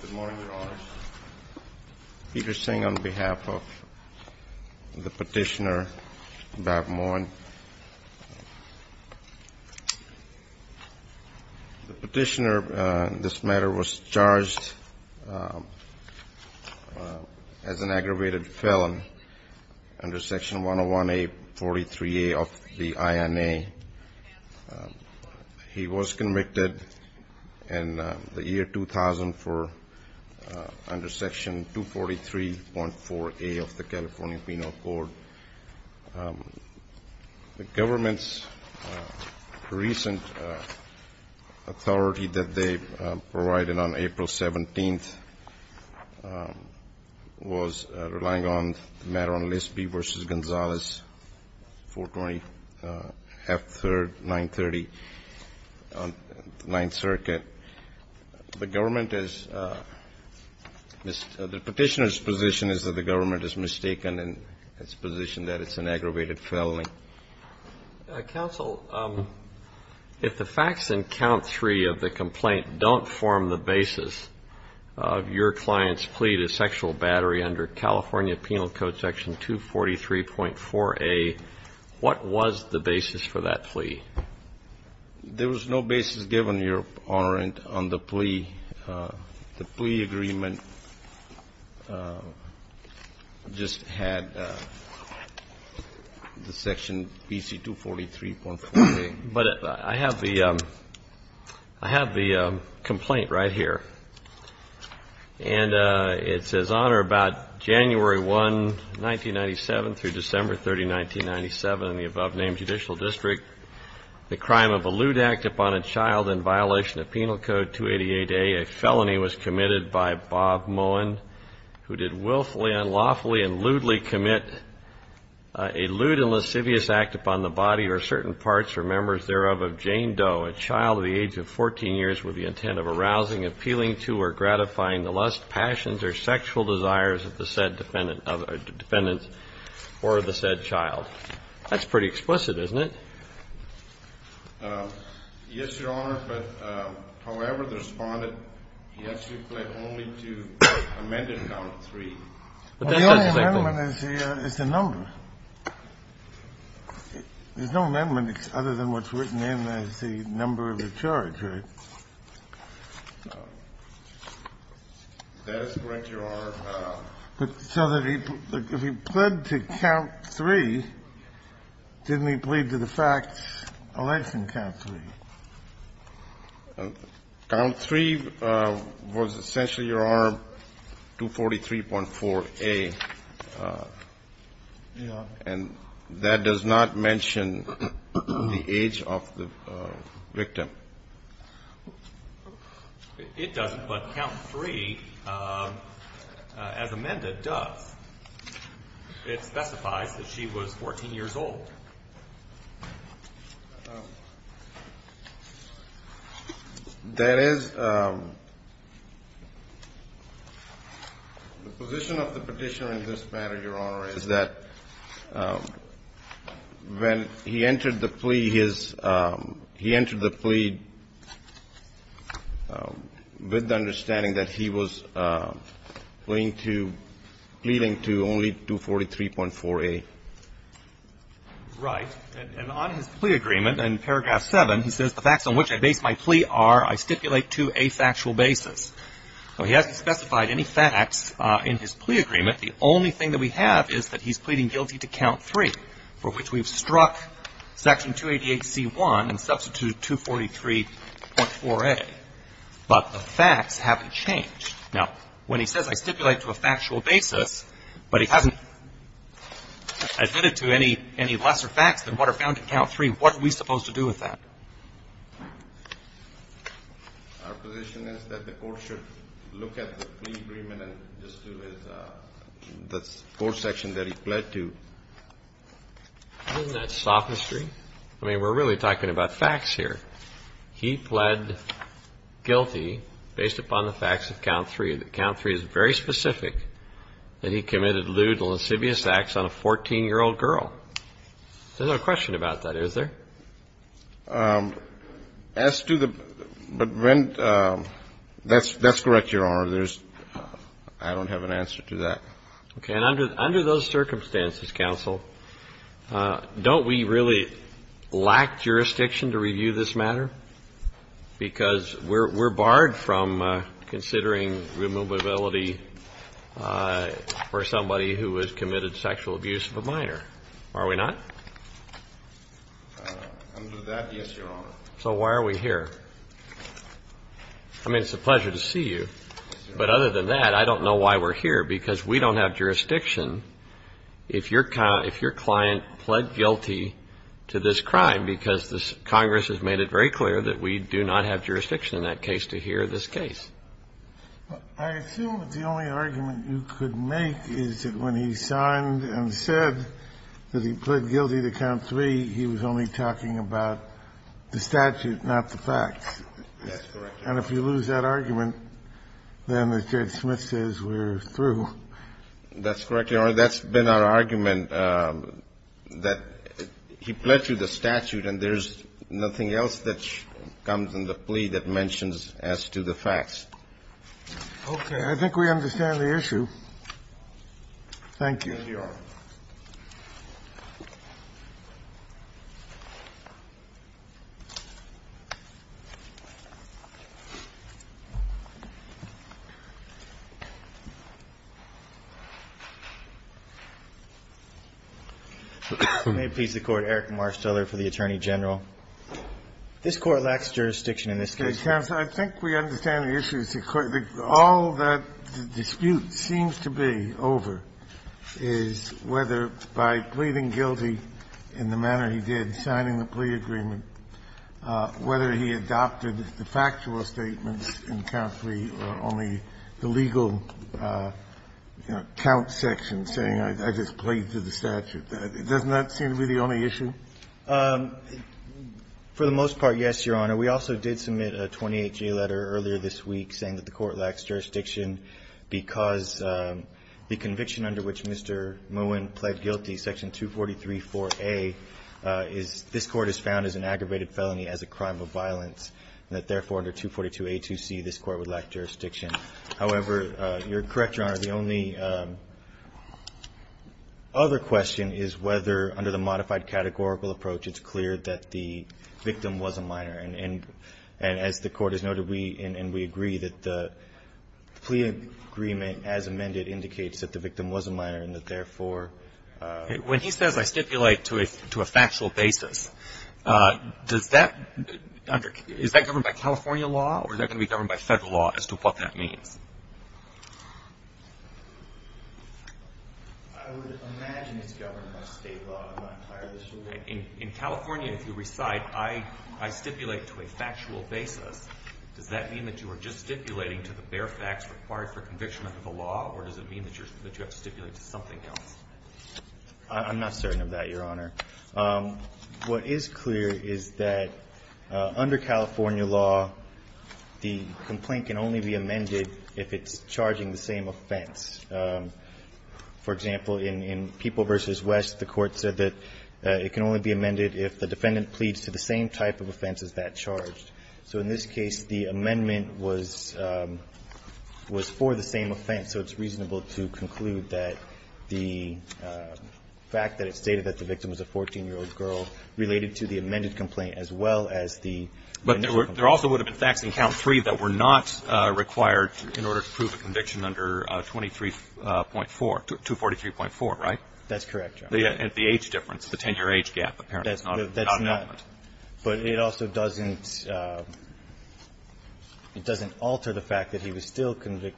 Good morning, Your Honors. Peter Singh on behalf of the petitioner, Bob Moeun. The petitioner on this matter was charged as an aggravated felon under Section 101A.43a of the INA. He was convicted in the year 2004 under Section 243.4a of the California Penal Code. The government's recent authority that they provided on April 17th was relying on the matter on Lispy v. Gonzales, 420, 930, 9th Circuit. The government is the petitioner's position is that the government is mistaken in its position that it's an aggravated felony. Counsel, if the facts in count three of the complaint don't form the basis of your client's plea to sexual battery under California Penal Code Section 243.4a, what was the basis for that plea? There was no basis given, Your Honor, on the plea. The plea agreement just had the Section PC 243.4a. But I have the complaint right here. And it says, Honor, about January 1, 1997, through December 30, 1997, in the above-named Judicial District, the crime of a lewd act upon a child in violation of Penal Code 288a, a felony was committed by Bob Moeun, who did willfully, unlawfully, and lewdly commit a lewd and lascivious act upon the body or certain parts or members thereof of Jane Doe, a child of the age of 14 years with the intent of arousing, appealing to, or gratifying the lust, passions, or sexual desires of the said defendant or the said child. That's pretty explicit, isn't it? Yes, Your Honor, but, however, the respondent, he actually pled only to amend it on 3. The only amendment is the number. There's no amendment other than what's written in as the number of the charge, right? That is correct, Your Honor. But so that he pled to count 3, didn't he plead to the facts election count 3? Count 3 was essentially Your Honor, 243.4a. Yes. And that does not mention the age of the victim. It doesn't, but count 3, as amended, does. It specifies that she was 14 years old. That is, the position of the petitioner in this matter, Your Honor, is that when he entered the plea, he entered the plea with the understanding that he was pleading to only 243.4a. Right. And on his plea agreement, in paragraph 7, he says the facts on which I base my plea are I stipulate to a factual basis. So he hasn't specified any facts in his plea agreement. The only thing that we have is that he's pleading guilty to count 3, for which we've struck Section 288C1 and substituted 243.4a. But the facts haven't changed. Now, when he says I stipulate to a factual basis, but he hasn't admitted to any lesser facts than what are found in count 3, what are we supposed to do with that? Our position is that the court should look at the plea agreement and just do his The court section that he pled to. Isn't that sophistry? I mean, we're really talking about facts here. He pled guilty based upon the facts of count 3, that count 3 is very specific, that he committed lewd and lascivious acts on a 14-year-old girl. There's no question about that, is there? As to the – but when – that's correct, Your Honor. I don't have an answer to that. Okay. And under those circumstances, counsel, don't we really lack jurisdiction to review this matter? Because we're barred from considering removability for somebody who has committed sexual abuse of a minor, are we not? Under that, yes, Your Honor. So why are we here? I mean, it's a pleasure to see you. But other than that, I don't know why we're here, because we don't have jurisdiction if your client pled guilty to this crime, because Congress has made it very clear that we do not have jurisdiction in that case to hear this case. I assume that the only argument you could make is that when he signed and said that he pled guilty to Count 3, he was only talking about the statute, not the facts. That's correct. And if you lose that argument, then, as Judge Smith says, we're through. That's correct, Your Honor. That's been our argument, that he pled to the statute, and there's nothing else that comes in the plea that mentions as to the facts. Okay. I think we understand the issue. Thank you. Thank you, Your Honor. May it please the Court. Eric Marsteller for the Attorney General. I think we understand the issue. All that dispute seems to be over is whether, by pleading guilty in the manner he did, signing the plea agreement, whether he adopted the factual statements in Count 3 or only the legal, you know, count section saying, I just pled to the statute. Doesn't that seem to be the only issue? For the most part, yes, Your Honor. We also did submit a 28-G letter earlier this week saying that the Court lacks jurisdiction because the conviction under which Mr. Muin pled guilty, section 243-4A, this Court has found as an aggravated felony as a crime of violence and that, therefore, under 242-A2C, this Court would lack jurisdiction. However, you're correct, Your Honor. The only other question is whether, under the modified categorical approach, it's clear that the victim was a minor. And as the Court has noted, we agree that the plea agreement as amended indicates that the victim was a minor and that, therefore ---- When he says, I stipulate to a factual basis, does that under ---- is that governed by California law or is that going to be governed by Federal law as to what that I would imagine it's governed by State law. I'm not entirely sure. In California, if you recite, I stipulate to a factual basis, does that mean that you are just stipulating to the bare facts required for conviction under the law or does it mean that you have to stipulate to something else? I'm not certain of that, Your Honor. What is clear is that under California law, the complaint can only be amended if it's charging the same offense. For example, in People v. West, the Court said that it can only be amended if the defendant pleads to the same type of offense as that charged. So in this case, the amendment was for the same offense, so it's reasonable to conclude that the fact that it stated that the victim was a 14-year-old girl related to the amended complaint as well as the ---- But there also would have been facts in Count 3 that were not required in order to prove a conviction under 23.4, 243.4, right? That's correct, Your Honor. And the age difference, the 10-year age gap apparently is not an element. That's not. But it also doesn't ---- it doesn't alter the fact that he was still ----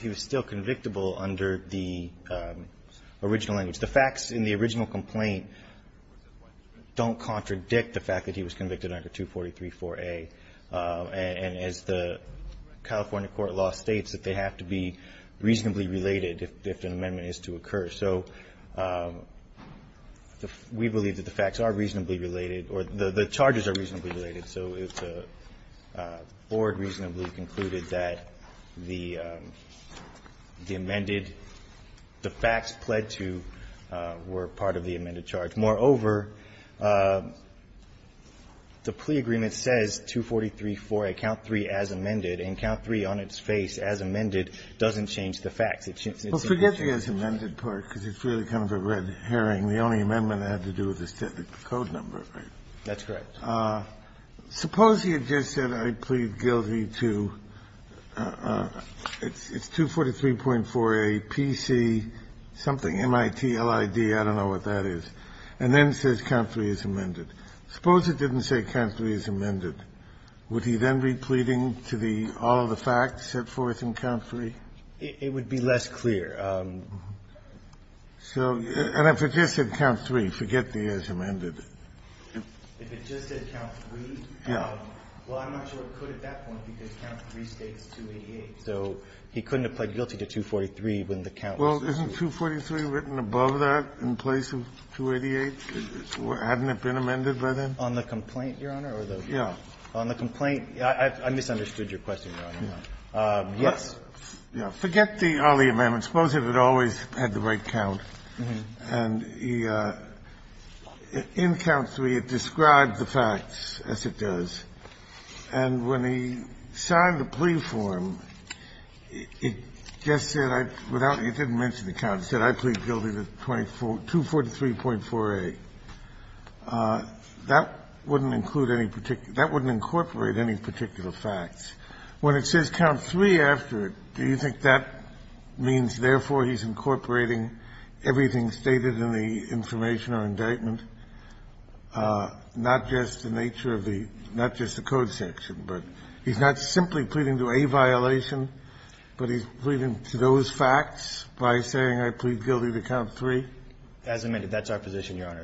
he was still convictable under the original language. The facts in the original complaint don't contradict the fact that he was convicted under 243.4a. And as the California court law states, that they have to be reasonably related if an amendment is to occur. So we believe that the facts are reasonably related, or the charges are reasonably related. So if the Board reasonably concluded that the amended ---- the facts pled to were part of the amended charge. Moreover, the plea agreement says 243.4a, Count 3 as amended, and Count 3 on its face as amended doesn't change the facts. Well, forget the as amended part, because it's really kind of a red herring. The only amendment had to do with the code number, right? That's correct. Suppose he had just said, I plead guilty to ---- it's 243.4a, P.C. something, M.I.T., L.I.D., I don't know what that is, and then says Count 3 as amended. Suppose it didn't say Count 3 as amended. Would he then be pleading to the ---- all of the facts set forth in Count 3? It would be less clear. So ---- And if it just said Count 3, forget the as amended. If it just said Count 3, well, I'm not sure it could at that point, because Count 3 states 288. So he couldn't have pled guilty to 243 when the Count was ---- Well, isn't 243 written above that in place of 288? Hadn't it been amended by then? On the complaint, Your Honor, or the ---- Yeah. On the complaint, I misunderstood your question, Your Honor. Yes. Forget the Ali amendment. Suppose it had always had the right count. And in Count 3, it describes the facts as it does. And when he signed the plea form, it just said I ---- without ---- it didn't mention the count. It said, I plead guilty to 243.4a. That wouldn't include any particular ---- that wouldn't incorporate any particular facts. When it says Count 3 after it, do you think that means, therefore, he's incorporating everything stated in the information or indictment, not just the nature of the ---- not just the code section? But he's not simply pleading to a violation, but he's pleading to those facts by saying I plead guilty to Count 3? As amended. That's our position, Your Honor.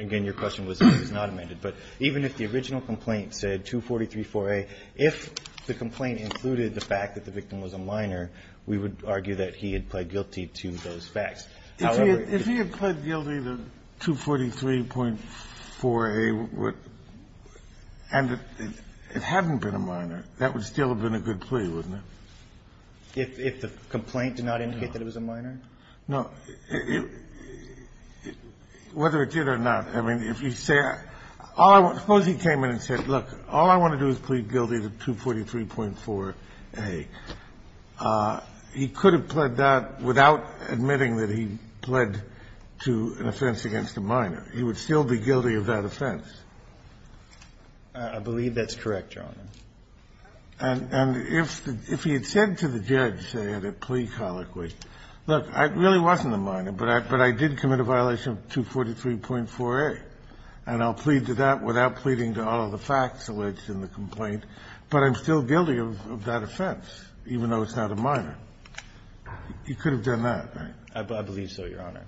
Again, your question was it was not amended. But even if the original complaint said 243.4a, if the complaint included the fact that the victim was a minor, we would argue that he had pled guilty to those facts. However ---- If he had pled guilty to 243.4a and it hadn't been a minor, that would still have been a good plea, wouldn't it? No. Whether it did or not, I mean, if you say ---- suppose he came in and said, look, all I want to do is plead guilty to 243.4a. He could have pled that without admitting that he pled to an offense against a minor. He would still be guilty of that offense. I believe that's correct, Your Honor. And if he had said to the judge, say, at a plea colloquy, look, I really wasn't a minor, but I did commit a violation of 243.4a, and I'll plead to that without pleading to all of the facts alleged in the complaint, but I'm still guilty of that offense, even though it's not a minor. He could have done that, right? I believe so, Your Honor.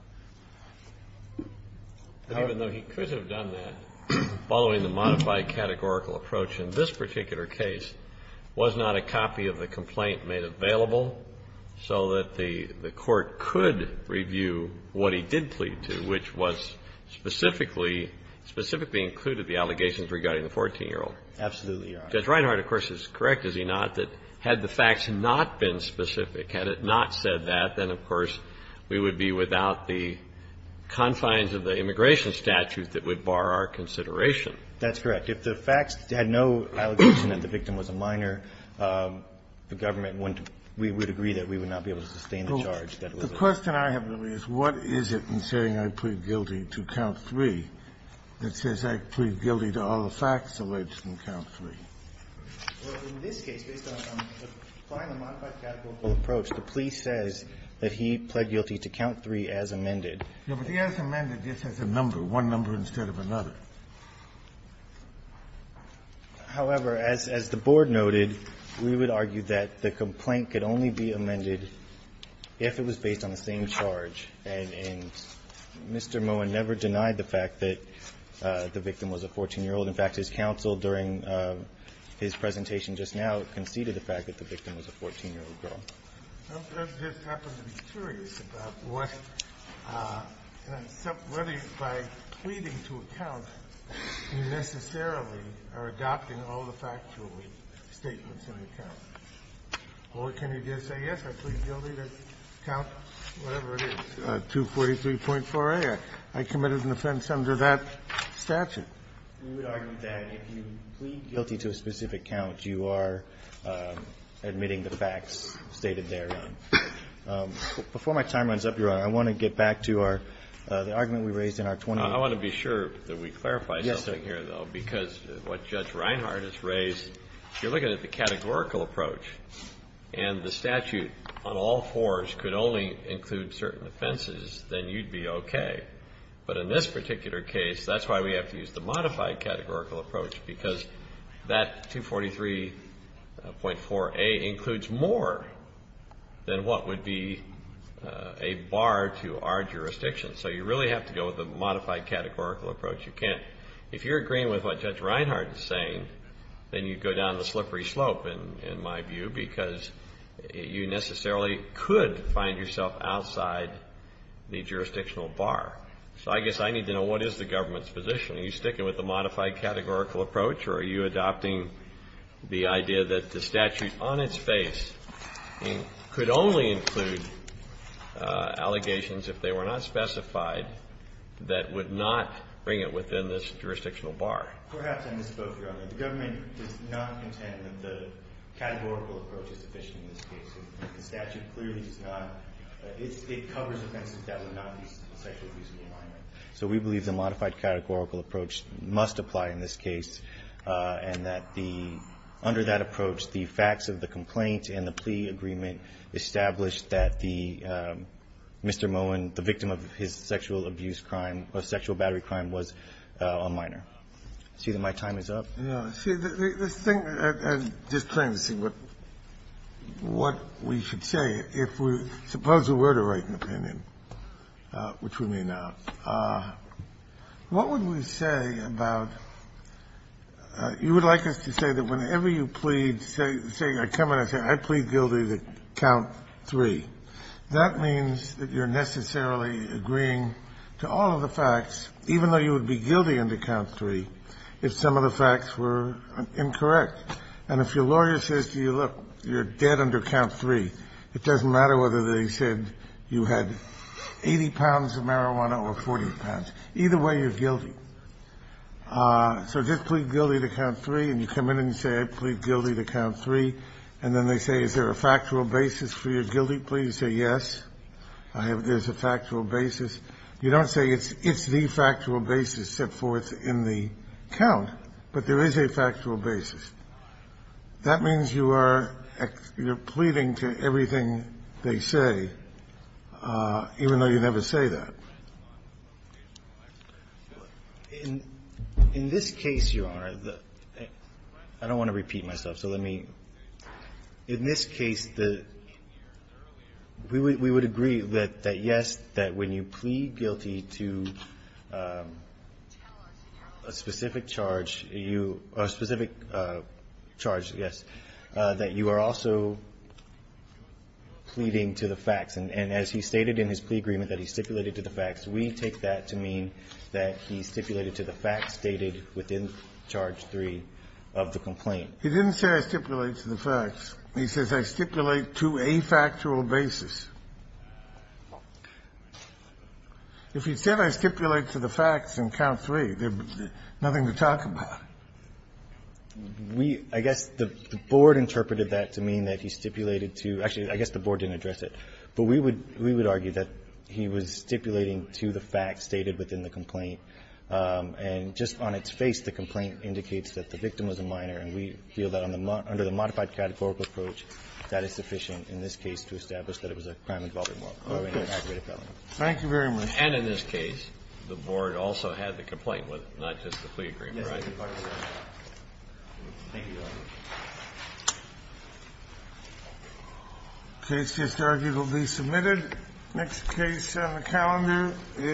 Even though he could have done that, following the modified categorical approach in this particular case, was not a copy of the complaint made available so that the court could review what he did plead to, which was specifically, specifically included the allegations regarding the 14-year-old. Absolutely, Your Honor. Judge Reinhardt, of course, is correct, is he not, that had the facts not been specific, had it not said that, then, of course, we would be without the confines of the immigration statute that would bar our consideration. That's correct. If the facts had no allegation that the victim was a minor, the government wouldn't be able to agree that we would not be able to sustain the charge that was alleged. The question I have, though, is what is it in saying I plead guilty to count three that says I plead guilty to all the facts alleged in count three? Well, in this case, based on the final modified categorical approach, the police says that he pled guilty to count three as amended. No, but the as amended just has a number, one number instead of another. However, as the Board noted, we would argue that the complaint could only be amended if it was based on the same charge, and Mr. Moen never denied the fact that the victim was a 14-year-old. In fact, his counsel during his presentation just now conceded the fact that the victim was a 14-year-old girl. Well, does this happen to be curious about whether by pleading to a count, you necessarily are adopting all the factual statements in the count? Or can you just say, yes, I plead guilty to count whatever it is, 243.4a. I committed an offense under that statute. We would argue that if you plead guilty to a specific count, you are admitting the facts stated therein. Before my time runs up, Your Honor, I want to get back to our, the argument we raised in our 20- I want to be sure that we clarify something here, though, because what Judge Reinhart has raised, if you're looking at the categorical approach and the statute on all fours could only include certain offenses, then you'd be okay. But in this particular case, that's why we have to use the modified categorical approach, because that 243.4a includes more than what would be a bar to our jurisdiction. So you really have to go with the modified categorical approach. You can't- If you're agreeing with what Judge Reinhart is saying, then you'd go down the slippery slope in my view, because you necessarily could find yourself outside the jurisdictional bar. So I guess I need to know what is the government's position. Are you sticking with the modified categorical approach, or are you adopting the idea that the statute on its face could only include allegations, if they were not specified, that would not bring it within this jurisdictional bar? Perhaps I misspoke, Your Honor. The government does not contend that the categorical approach is sufficient in this case. The statute clearly does not- it covers offenses that would not be sexually abusive in a minor. So we believe the modified categorical approach must apply in this case, and that the under that approach, the facts of the complaint and the plea agreement established that the Mr. Moen, the victim of his sexual abuse crime, or sexual battery crime, was a minor. I see that my time is up. No. See, the thing, and just plain to see what we should say, if we were to write an opinion, which we may not, what would we say about you would like us to say that whenever you plead, say I come in and say I plead guilty to count three, that means that you're necessarily agreeing to all of the facts, even though you would be guilty under count three, if some of the facts were incorrect. And if your lawyer says to you, look, you're dead under count three, it doesn't matter whether they said you had 80 pounds of marijuana or 40 pounds. Either way, you're guilty. So just plead guilty to count three, and you come in and say I plead guilty to count three, and then they say is there a factual basis for your guilty plea, you say yes, there's a factual basis. You don't say it's the factual basis set forth in the count, but there is a factual basis. That means you are pleading to everything they say, even though you never say that. In this case, Your Honor, I don't want to repeat myself, so let me, in this case, we would agree that yes, that when you plead guilty to a specific charge, a specific charge, yes, that you are also pleading to the facts. And as he stated in his plea agreement that he stipulated to the facts, we take that to mean that he stipulated to the facts stated within charge three of the complaint. He didn't say I stipulate to the facts. He says I stipulate to a factual basis. If he said I stipulate to the facts in count three, there's nothing to talk about. We, I guess the Board interpreted that to mean that he stipulated to, actually, I guess the Board didn't address it, but we would argue that he was stipulating to the facts stated within the complaint. And just on its face, the complaint indicates that the victim was a minor, and we feel that under the modified categorical approach, that is sufficient in this case to establish that it was a crime involving law. Kennedy. Thank you very much. And in this case, the Board also had the complaint, not just the plea agreement, right? Yes, sir. Thank you. This case, I argue, will be submitted. Next case on the calendar is